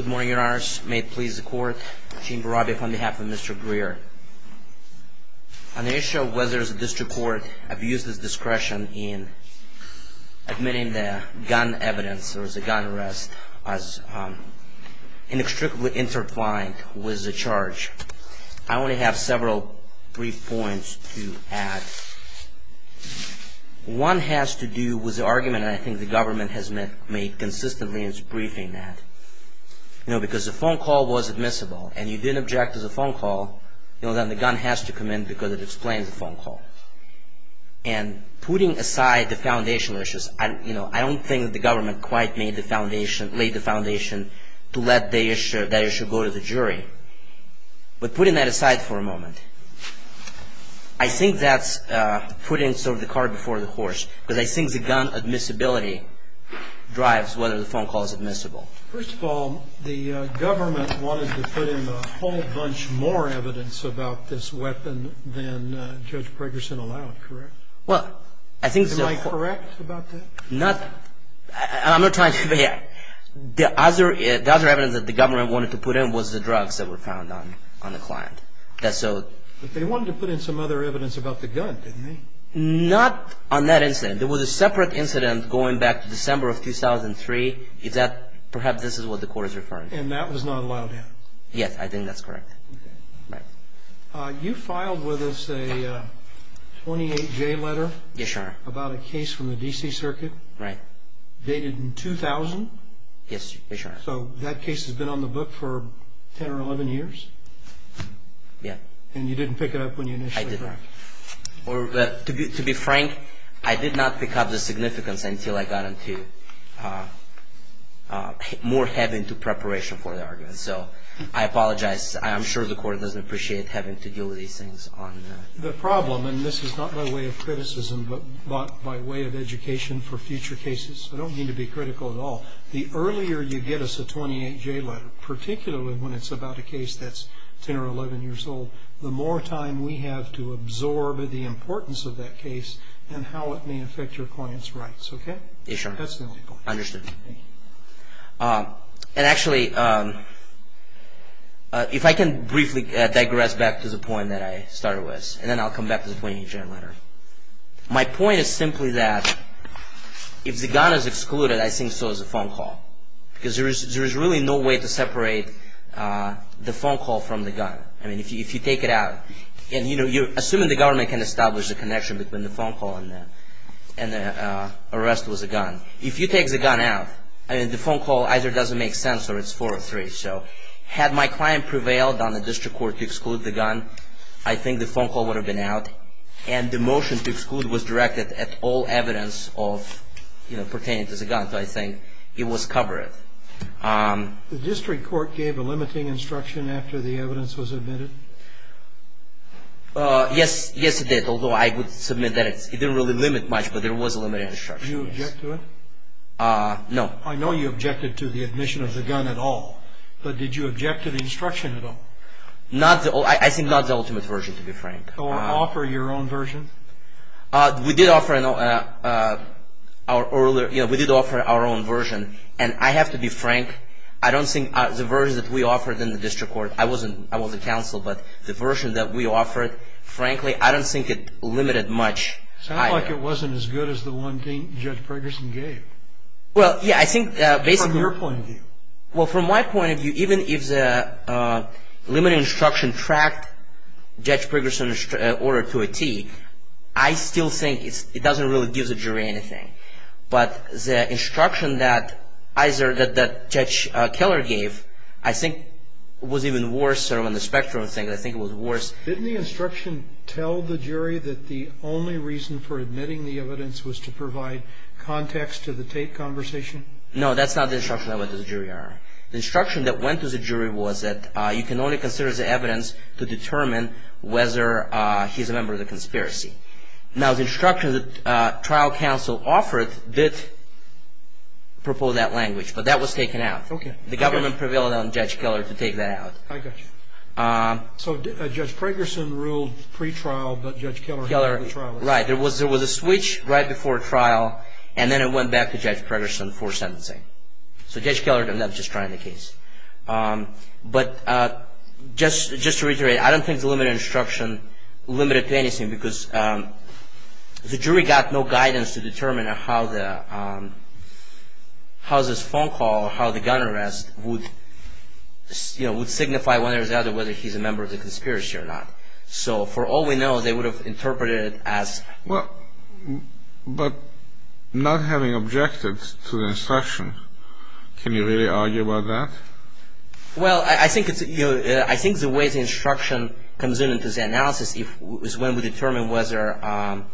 Good morning, your honors. May it please the court, Gene Barabia on behalf of Mr. Greer. On the issue of whether the district court abused its discretion in admitting the gun evidence or the gun arrest as inextricably intertwined with the charge, I only have several brief points to add. One has to do with the argument I think the government has made consistently in its briefing that, you know, because the phone call was admissible and you didn't object to the phone call, you know, then the gun has to come in because it explains the phone call. And putting aside the foundational issues, you know, I don't think the government quite made the foundation, laid the foundation to let that issue go to the jury. But putting that aside for a moment, I think that's putting sort of the cart before the horse because I think the gun admissibility drives whether the phone call is admissible. First of all, the government wanted to put in a whole bunch more evidence about this weapon than Judge Pregerson allowed, correct? Am I correct about that? I'm not trying to – the other evidence that the government wanted to put in was the drugs that were found on the client. But they wanted to put in some other evidence about the gun, didn't they? Not on that incident. There was a separate incident going back to December of 2003. Perhaps this is what the court is referring to. And that was not allowed in? Yes, I think that's correct. You filed with us a 28-J letter about a case from the D.C. Circuit dated in 2000? Yes, Your Honor. So that case has been on the book for 10 or 11 years? Yes. And you didn't pick it up when you initially filed? I didn't. To be frank, I did not pick up the significance until I got more heavy into preparation for the argument. So I apologize. I'm sure the court doesn't appreciate having to deal with these things. The problem – and this is not by way of criticism, but by way of education for future cases. I don't mean to be critical at all. The earlier you get us a 28-J letter, particularly when it's about a case that's 10 or 11 years old, the more time we have to absorb the importance of that case and how it may affect your client's rights. Okay? Yes, Your Honor. That's the only point. Understood. And actually, if I can briefly digress back to the point that I started with. And then I'll come back to the 28-J letter. My point is simply that if the gun is excluded, I think so is the phone call. Because there is really no way to separate the phone call from the gun. I mean, if you take it out. And, you know, assuming the government can establish a connection between the phone call and the arrest with a gun. If you take the gun out, I mean, the phone call either doesn't make sense or it's four or three. So had my client prevailed on the district court to exclude the gun, I think the phone call would have been out. And the motion to exclude was directed at all evidence of, you know, pertaining to the gun. So I think it was covered. The district court gave a limiting instruction after the evidence was admitted? Yes. Yes, it did. Although I would submit that it didn't really limit much, but there was a limited instruction. Did you object to it? No. I know you objected to the admission of the gun at all. But did you object to the instruction at all? I think not the ultimate version, to be frank. Or offer your own version? We did offer our own version. And I have to be frank, I don't think the version that we offered in the district court, I wasn't counsel, but the version that we offered, frankly, I don't think it limited much either. It sounded like it wasn't as good as the one Judge Pregerson gave. Well, yeah, I think basically... From your point of view. Well, from my point of view, even if the limiting instruction tracked Judge Pregerson's order to a T, I still think it doesn't really give the jury anything. But the instruction that Judge Keller gave, I think was even worse on the spectrum of things. I think it was worse. Didn't the instruction tell the jury that the only reason for admitting the evidence was to provide context to the Tate conversation? No, that's not the instruction that went to the jury, Your Honor. The instruction that went to the jury was that you can only consider the evidence to determine whether he's a member of the conspiracy. Now, the instruction that trial counsel offered did propose that language, but that was taken out. Okay. The government prevailed on Judge Keller to take that out. I got you. So Judge Pregerson ruled pre-trial, but Judge Keller had the trial. Right. There was a switch right before trial, and then it went back to Judge Pregerson for sentencing. So Judge Keller ended up just trying the case. But just to reiterate, I don't think the limited instruction limited to anything, because the jury got no guidance to determine how this phone call or how the gun arrest would signify one or the other, whether he's a member of the conspiracy or not. So for all we know, they would have interpreted it as... Well, but not having objected to the instruction, can you really argue about that? Well, I think the way the instruction comes into the analysis is when we determine whether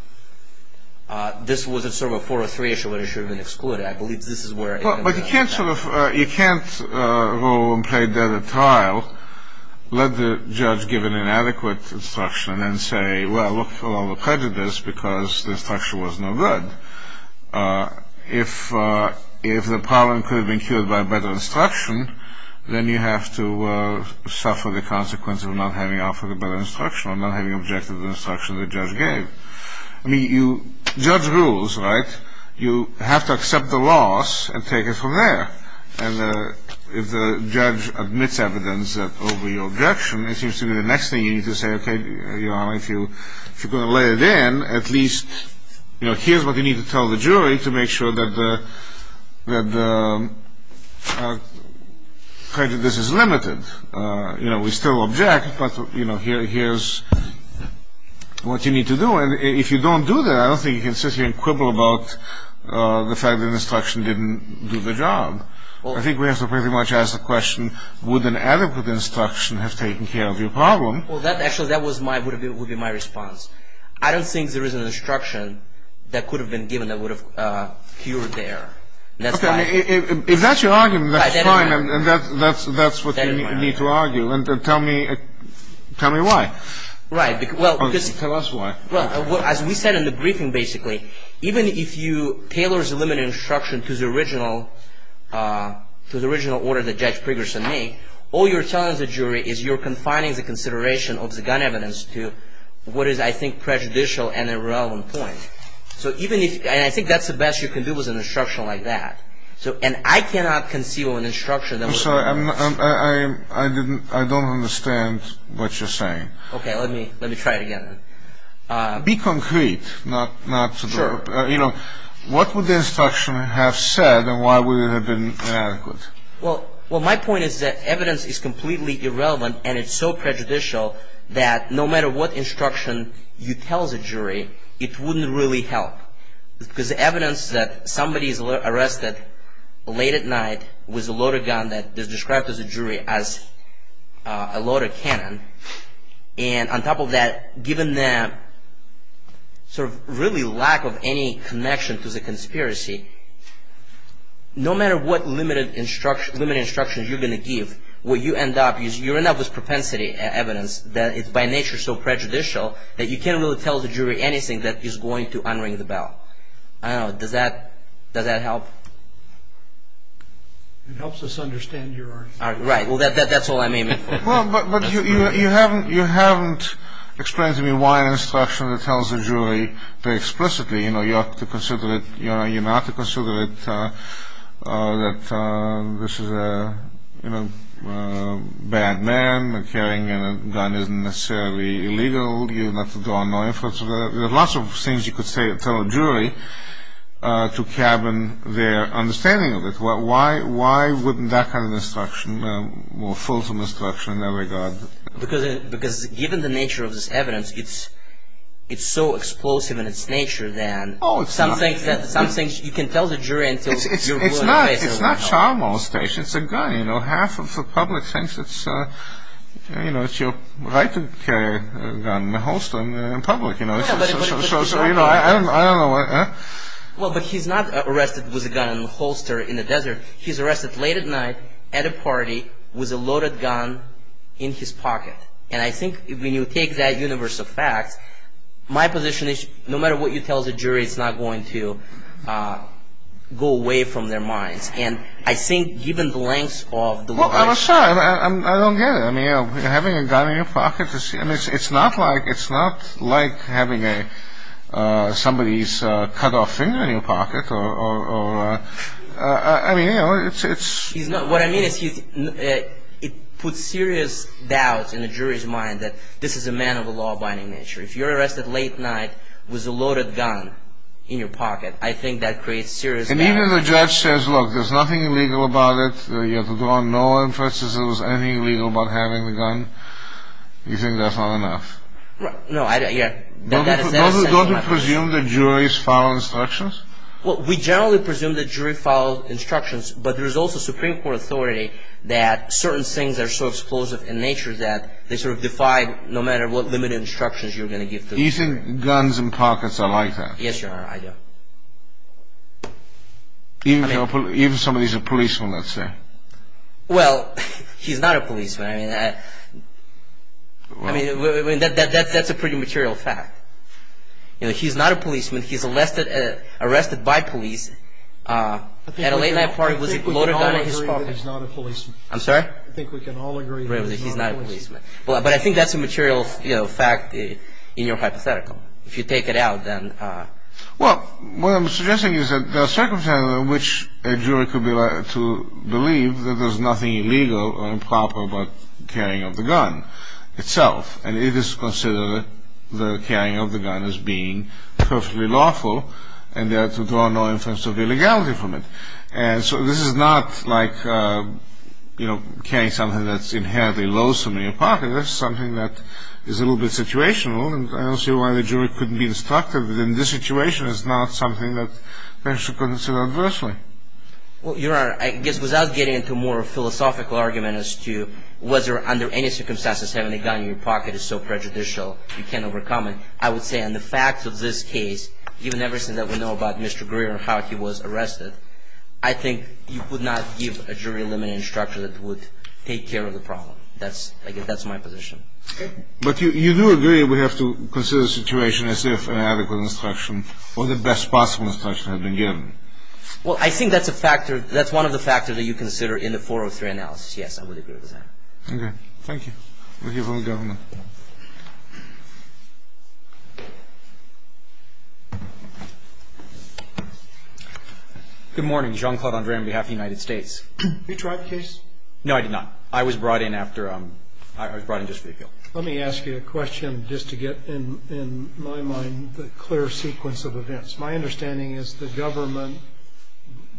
this wasn't sort of a 4 or 3 issue, whether it should have been excluded. I believe this is where... But you can't rule and play dead at trial, let the judge give an inadequate instruction and say, well, look for all the prejudice, because the instruction was no good. If the problem could have been cured by a better instruction, then you have to suffer the consequence of not having offered a better instruction or not having objected to the instruction the judge gave. I mean, judge rules, right? You have to accept the loss and take it from there. And if the judge admits evidence over your objection, it seems to me the next thing you need to say, okay, Your Honor, if you're going to let it in, at least here's what you need to tell the jury to make sure that the prejudice is limited. We still object, but here's what you need to do. And if you don't do that, I don't think you can sit here and quibble about the fact that the instruction didn't do the job. I think we have to pretty much ask the question, would an adequate instruction have taken care of your problem? Well, actually, that would be my response. I don't think there is an instruction that could have been given that would have cured the error. If that's your argument, that's fine, and that's what you need to argue. Tell me why. Tell us why. Well, as we said in the briefing, basically, even if you tailor the limited instruction to the original order that Judge Pregerson made, all you're telling the jury is you're confining the consideration of the gun evidence to what is, I think, prejudicial and irrelevant point. And I think that's the best you can do with an instruction like that. And I cannot conceive of an instruction that would do that. I'm sorry. I don't understand what you're saying. Okay, let me try it again. Be concrete. Sure. You know, what would the instruction have said, and why would it have been inadequate? Well, my point is that evidence is completely irrelevant, and it's so prejudicial that no matter what instruction you tell the jury, it wouldn't really help. Because the evidence that somebody is arrested late at night with a loaded gun that is described as a jury as a loaded cannon, and on top of that, given the sort of really lack of any connection to the conspiracy, no matter what limited instruction you're going to give, what you end up is you end up with propensity evidence that is by nature so prejudicial that you can't really tell the jury anything that is going to unring the bell. I don't know. Does that help? It helps us understand your argument. Right. Well, that's all I may make. Well, but you haven't explained to me why an instruction that tells a jury very explicitly, you know, you have to consider it, you know, you're not to consider it that this is a, you know, bad man, and carrying a gun isn't necessarily illegal, you're not to draw on no influence of that. There are lots of things you could tell a jury to cabin their understanding of it. Well, why wouldn't that kind of instruction or fulsome instruction in that regard? Because given the nature of this evidence, it's so explosive in its nature then. Oh, it's not. Some things you can tell the jury until you're put in jail. It's not charmo station, it's a gun, you know, half of the public thinks it's, you know, it's your right to carry a gun in a holster in public, you know, I don't know. Well, but he's not arrested with a gun in a holster in the desert. He's arrested late at night at a party with a loaded gun in his pocket. And I think when you take that universe of facts, my position is no matter what you tell the jury, it's not going to go away from their minds. And I think given the length of the... Well, I'm sorry, I don't get it. I mean, having a gun in your pocket, it's not like having somebody's cut off finger in your pocket. I mean, you know, it's... What I mean is it puts serious doubts in the jury's mind that this is a man of a law-abiding nature. If you're arrested late night with a loaded gun in your pocket, I think that creates serious... And even the judge says, look, there's nothing illegal about it, you have to go on no inference that there was anything illegal about having the gun, you think that's not enough? No, I don't... Don't you presume that juries follow instructions? Well, we generally presume that juries follow instructions, but there's also Supreme Court authority that certain things are so explosive in nature that they sort of defy no matter what limited instructions you're going to give to... You think guns in pockets are like that? Yes, Your Honor, I do. Even somebody who's a policeman, let's say. Well, he's not a policeman. I mean, that's a pretty material fact. You know, he's not a policeman, he's arrested by police at a late night party with a loaded gun in his pocket. I think we can all agree that he's not a policeman. I'm sorry? I think we can all agree that he's not a policeman. But I think that's a material fact in your hypothetical. If you take it out, then... Well, what I'm suggesting is that there are circumstances in which a jury could be allowed to believe that there's nothing illegal or improper about carrying of the gun itself, and it is considered the carrying of the gun as being perfectly lawful, and there are no inferences of illegality from it. And so this is not like, you know, carrying something that's inherently loathsome in your pocket. This is something that is a little bit situational, and I don't see why the jury couldn't be instructed that in this situation, it's not something that they should consider adversely. Well, Your Honor, I guess without getting into a more philosophical argument as to whether under any circumstances having a gun in your pocket is so prejudicial you can't overcome it, I would say on the facts of this case, given everything that we know about Mr. Greer and how he was arrested, I think you could not give a jury a limiting structure that would take care of the problem. I guess that's my position. Okay. But you do agree we have to consider the situation as if an adequate instruction or the best possible instruction had been given. Well, I think that's a factor. That's one of the factors that you consider in the 403 analysis. Yes, I would agree with that. Okay. Thank you. Thank you, Your Honor. Good morning. Jean-Claude Andre on behalf of the United States. Did you try the case? No, I did not. I was brought in after I was brought in just for the appeal. Let me ask you a question just to get, in my mind, the clear sequence of events. My understanding is the government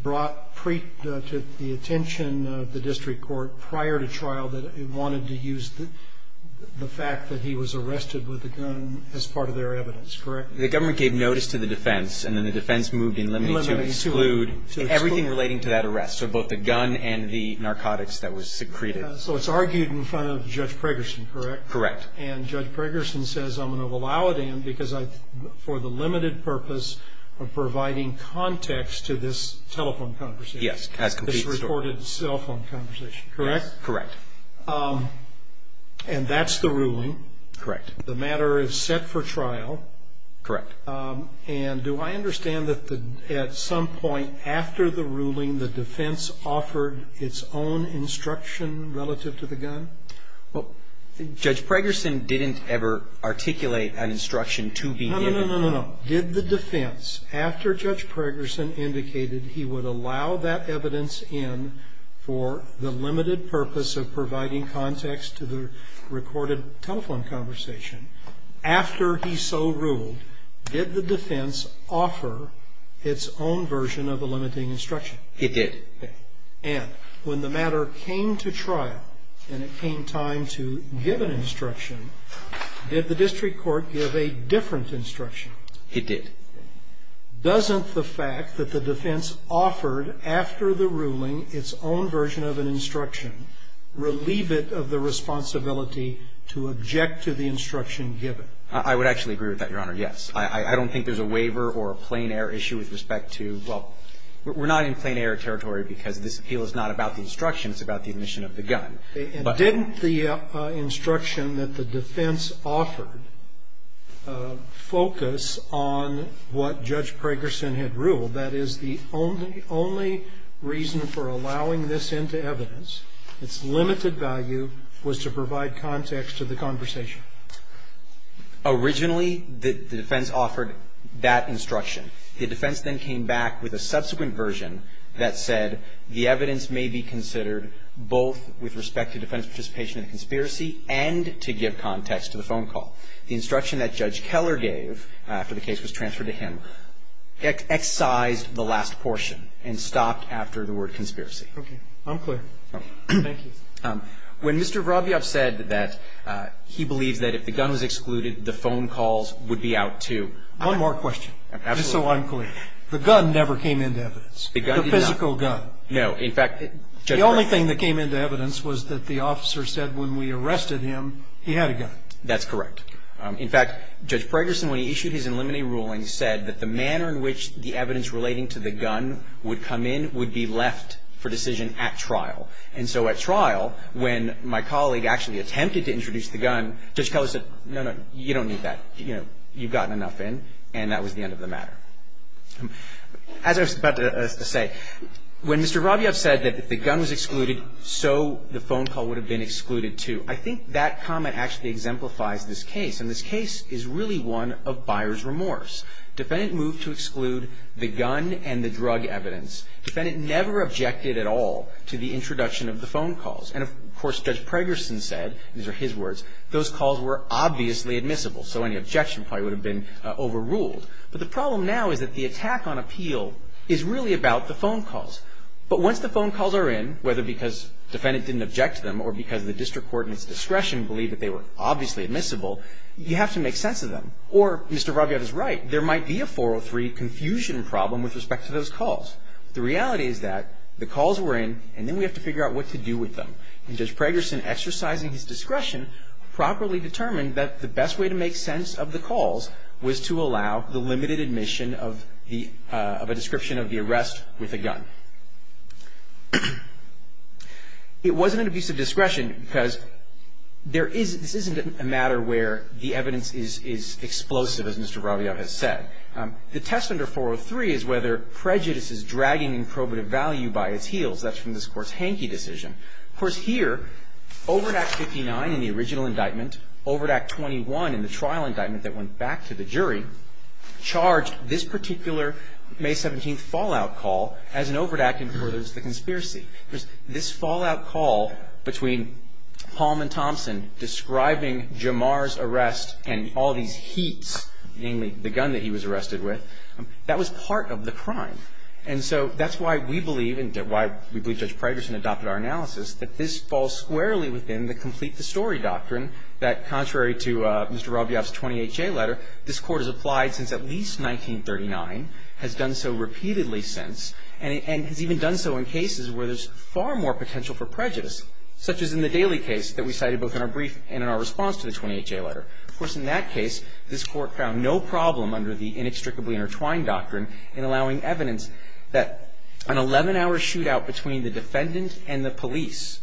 brought to the attention of the district court prior to trial that it wanted to use the fact that he was arrested with a gun as part of their evidence, correct? The government gave notice to the defense, and then the defense moved in limiting to exclude everything relating to that arrest, so both the gun and the narcotics that was secreted. So it's argued in front of Judge Pregerson, correct? Correct. And Judge Pregerson says, I'm going to allow it in because for the limited purpose of providing context to this telephone conversation. Yes. This reported cell phone conversation. Correct? Correct. And that's the ruling. Correct. The matter is set for trial. Correct. And do I understand that at some point after the ruling, the defense offered its own instruction relative to the gun? Well, Judge Pregerson didn't ever articulate an instruction to be given. No, no, no, no, no. Did the defense, after Judge Pregerson indicated he would allow that evidence in for the limited purpose of providing context to the recorded telephone conversation, after he so ruled, did the defense offer its own version of a limiting instruction? It did. Okay. And when the matter came to trial and it came time to give an instruction, did the district court give a different instruction? It did. Doesn't the fact that the defense offered after the ruling its own version of an instruction relieve it of the responsibility to object to the instruction given? I would actually agree with that, Your Honor, yes. I don't think there's a waiver or a plain error issue with respect to, well, we're not in plain error territory because this appeal is not about the instruction. It's about the admission of the gun. Didn't the instruction that the defense offered focus on what Judge Pregerson had ruled, that is, the only reason for allowing this into evidence, its limited value was to provide context to the conversation? Originally, the defense offered that instruction. The defense then came back with a subsequent version that said the evidence may be considered both with respect to defense participation in the conspiracy and to give context to the phone call. The instruction that Judge Keller gave, after the case was transferred to him, excised the last portion and stopped after the word conspiracy. Okay. I'm clear. Thank you. When Mr. Robyoff said that he believes that if the gun was excluded, the phone calls would be out too. One more question. Absolutely. Just so I'm clear. The gun never came into evidence. The gun did not. The physical gun. No. In fact, Judge Breyer. The only thing that came into evidence was that the officer said when we arrested him, he had a gun. That's correct. In fact, Judge Pregerson, when he issued his preliminary ruling, said that the manner in which the evidence relating to the gun would come in would be left for decision at trial. And so at trial, when my colleague actually attempted to introduce the gun, Judge Keller said, no, no, you don't need that. You've gotten enough in. And that was the end of the matter. As I was about to say, when Mr. Robyoff said that if the gun was excluded, so the phone call would have been excluded too. I think that comment actually exemplifies this case. And this case is really one of buyer's remorse. Defendant moved to exclude the gun and the drug evidence. Defendant never objected at all to the introduction of the phone calls. And, of course, Judge Pregerson said, these are his words, those calls were obviously admissible. So any objection probably would have been overruled. But the problem now is that the attack on appeal is really about the phone calls. But once the phone calls are in, whether because defendant didn't object to them or because the district court in its discretion believed that they were obviously admissible, you have to make sense of them. Or Mr. Robyoff is right. There might be a 403 confusion problem with respect to those calls. The reality is that the calls were in, and then we have to figure out what to do with them. And Judge Pregerson, exercising his discretion, properly determined that the best way to make sense of the calls was to allow the limited admission of a description of the arrest with a gun. It wasn't an abuse of discretion because there is this isn't a matter where the evidence is explosive, as Mr. Robyoff has said. The test under 403 is whether prejudice is dragging in probative value by its heels. That's from this Court's Hankey decision. Of course, here, over at Act 59 in the original indictment, over at Act 21 in the trial indictment that went back to the jury, charged this particular May 17th fallout call as an overt act before there was the conspiracy. This fallout call between Palm and Thompson describing Jamar's arrest and all these heats, namely the gun that he was arrested with, that was part of the crime. And so that's why we believe, and why we believe Judge Pregerson adopted our analysis, that this falls squarely within the complete the story doctrine that, contrary to Mr. Robyoff's 20HA letter, this Court has applied since at least 1939, has done so repeatedly since, and has even done so in cases where there's far more potential for prejudice, such as in the Daley case that we cited both in our brief and in our response to the 20HA letter. Of course, in that case, this Court found no problem under the inextricably intertwined doctrine in allowing evidence that an 11-hour shootout between the defendant and the police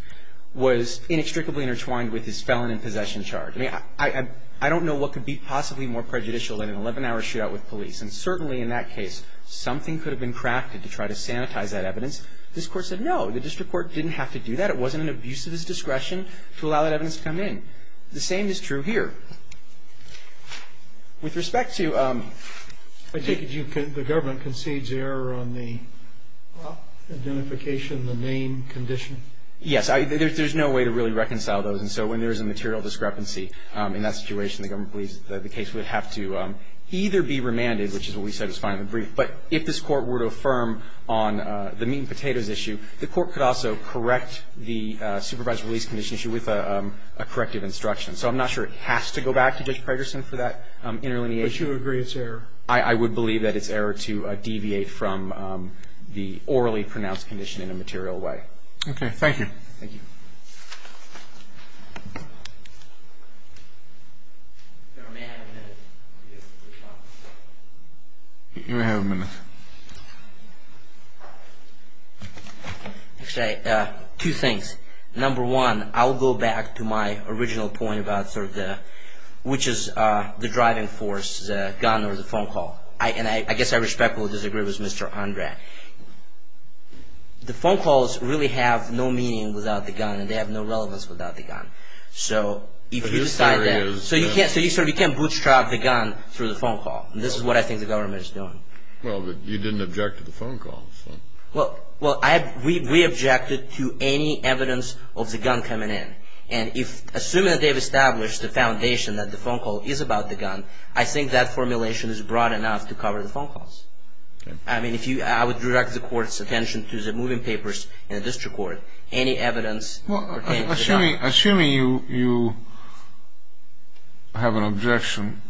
was inextricably intertwined with his felon and possession charge. I mean, I don't know what could be possibly more prejudicial than an 11-hour shootout with police. And certainly in that case, something could have been crafted to try to sanitize that evidence. This Court said no. The district court didn't have to do that. It wasn't an abuse of his discretion to allow that evidence to come in. The same is true here. With respect to... I take it the government concedes error on the identification, the name, condition? Yes. There's no way to really reconcile those. And so when there's a material discrepancy in that situation, the government believes that the case would have to either be remanded, which is what we said was fine in the brief, but if this Court were to affirm on the meat and potatoes issue, the Court could also correct the supervised release condition issue with a corrective instruction. So I'm not sure it has to go back to Judge Pragerson for that interlineation. But you agree it's error? I would believe that it's error to deviate from the orally pronounced condition in a material way. Okay. Thank you. Thank you. Thank you. Secretary, may I have a minute? Yes, Mr. Shockley. You may have a minute. Okay. Two things. Number one, I'll go back to my original point about sort of the, which is the driving force, the gun or the phone call. And I guess I respectfully disagree with Mr. Undrad. The phone calls really have no meaning without the gun and they have no relevance without the gun. So if you decide that you can't bootstrap the gun through the phone call. This is what I think the government is doing. Well, but you didn't object to the phone calls. Well, we objected to any evidence of the gun coming in. And assuming that they've established the foundation that the phone call is about the gun, I think that formulation is broad enough to cover the phone calls. I mean, I would direct the court's attention to the moving papers in the district court. Any evidence pertaining to the gun. Well, assuming you have an objection,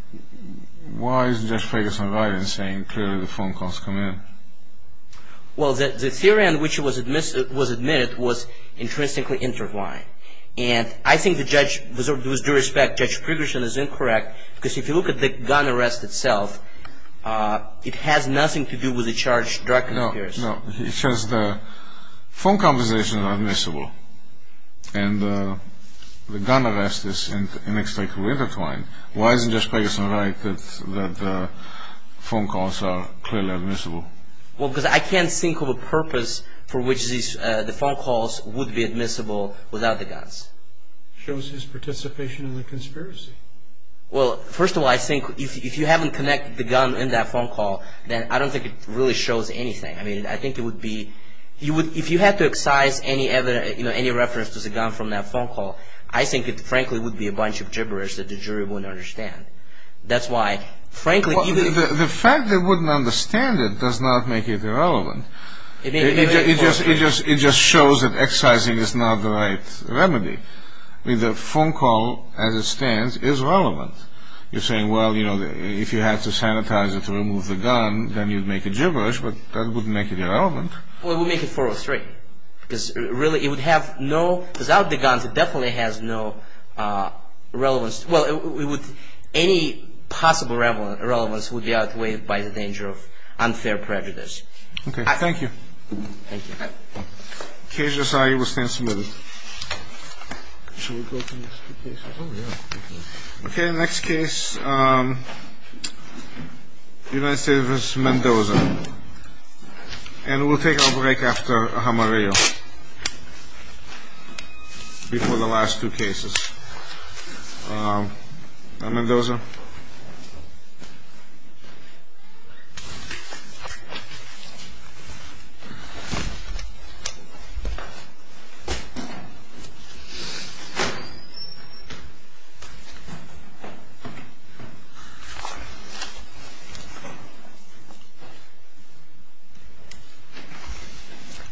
why is Judge Ferguson right in saying clearly the phone calls come in? Well, the theory on which it was admitted was intrinsically intertwined. And I think the judge, with due respect, Judge Ferguson is incorrect because if you look at the gun arrest itself, it has nothing to do with the charged drug conspiracy. No, no. It's just the phone conversations are admissible. And the gun arrest is inextricably intertwined. Why isn't Judge Ferguson right that the phone calls are clearly admissible? Well, because I can't think of a purpose for which the phone calls would be admissible without the guns. Shows his participation in the conspiracy. Well, first of all, I think if you haven't connected the gun in that phone call, then I don't think it really shows anything. I mean, I think it would be, if you had to excise any reference to the gun from that phone call, I think it, frankly, would be a bunch of gibberish that the jury wouldn't understand. That's why, frankly... The fact they wouldn't understand it does not make it irrelevant. It just shows that excising is not the right remedy. I mean, the phone call, as it stands, is relevant. You're saying, well, you know, if you had to sanitize it to remove the gun, then you'd make a gibberish, but that wouldn't make it irrelevant. Well, we'll make it 403. Because, really, it would have no, without the guns, it definitely has no relevance. Well, it would, any possible relevance would be outweighed by the danger of unfair prejudice. Okay. Thank you. Thank you. Case SIU will stand submitted. Okay, next case, United States v. Mendoza. And we'll take our break after a hamareo. Before the last two cases. Now, Mendoza. Thank you.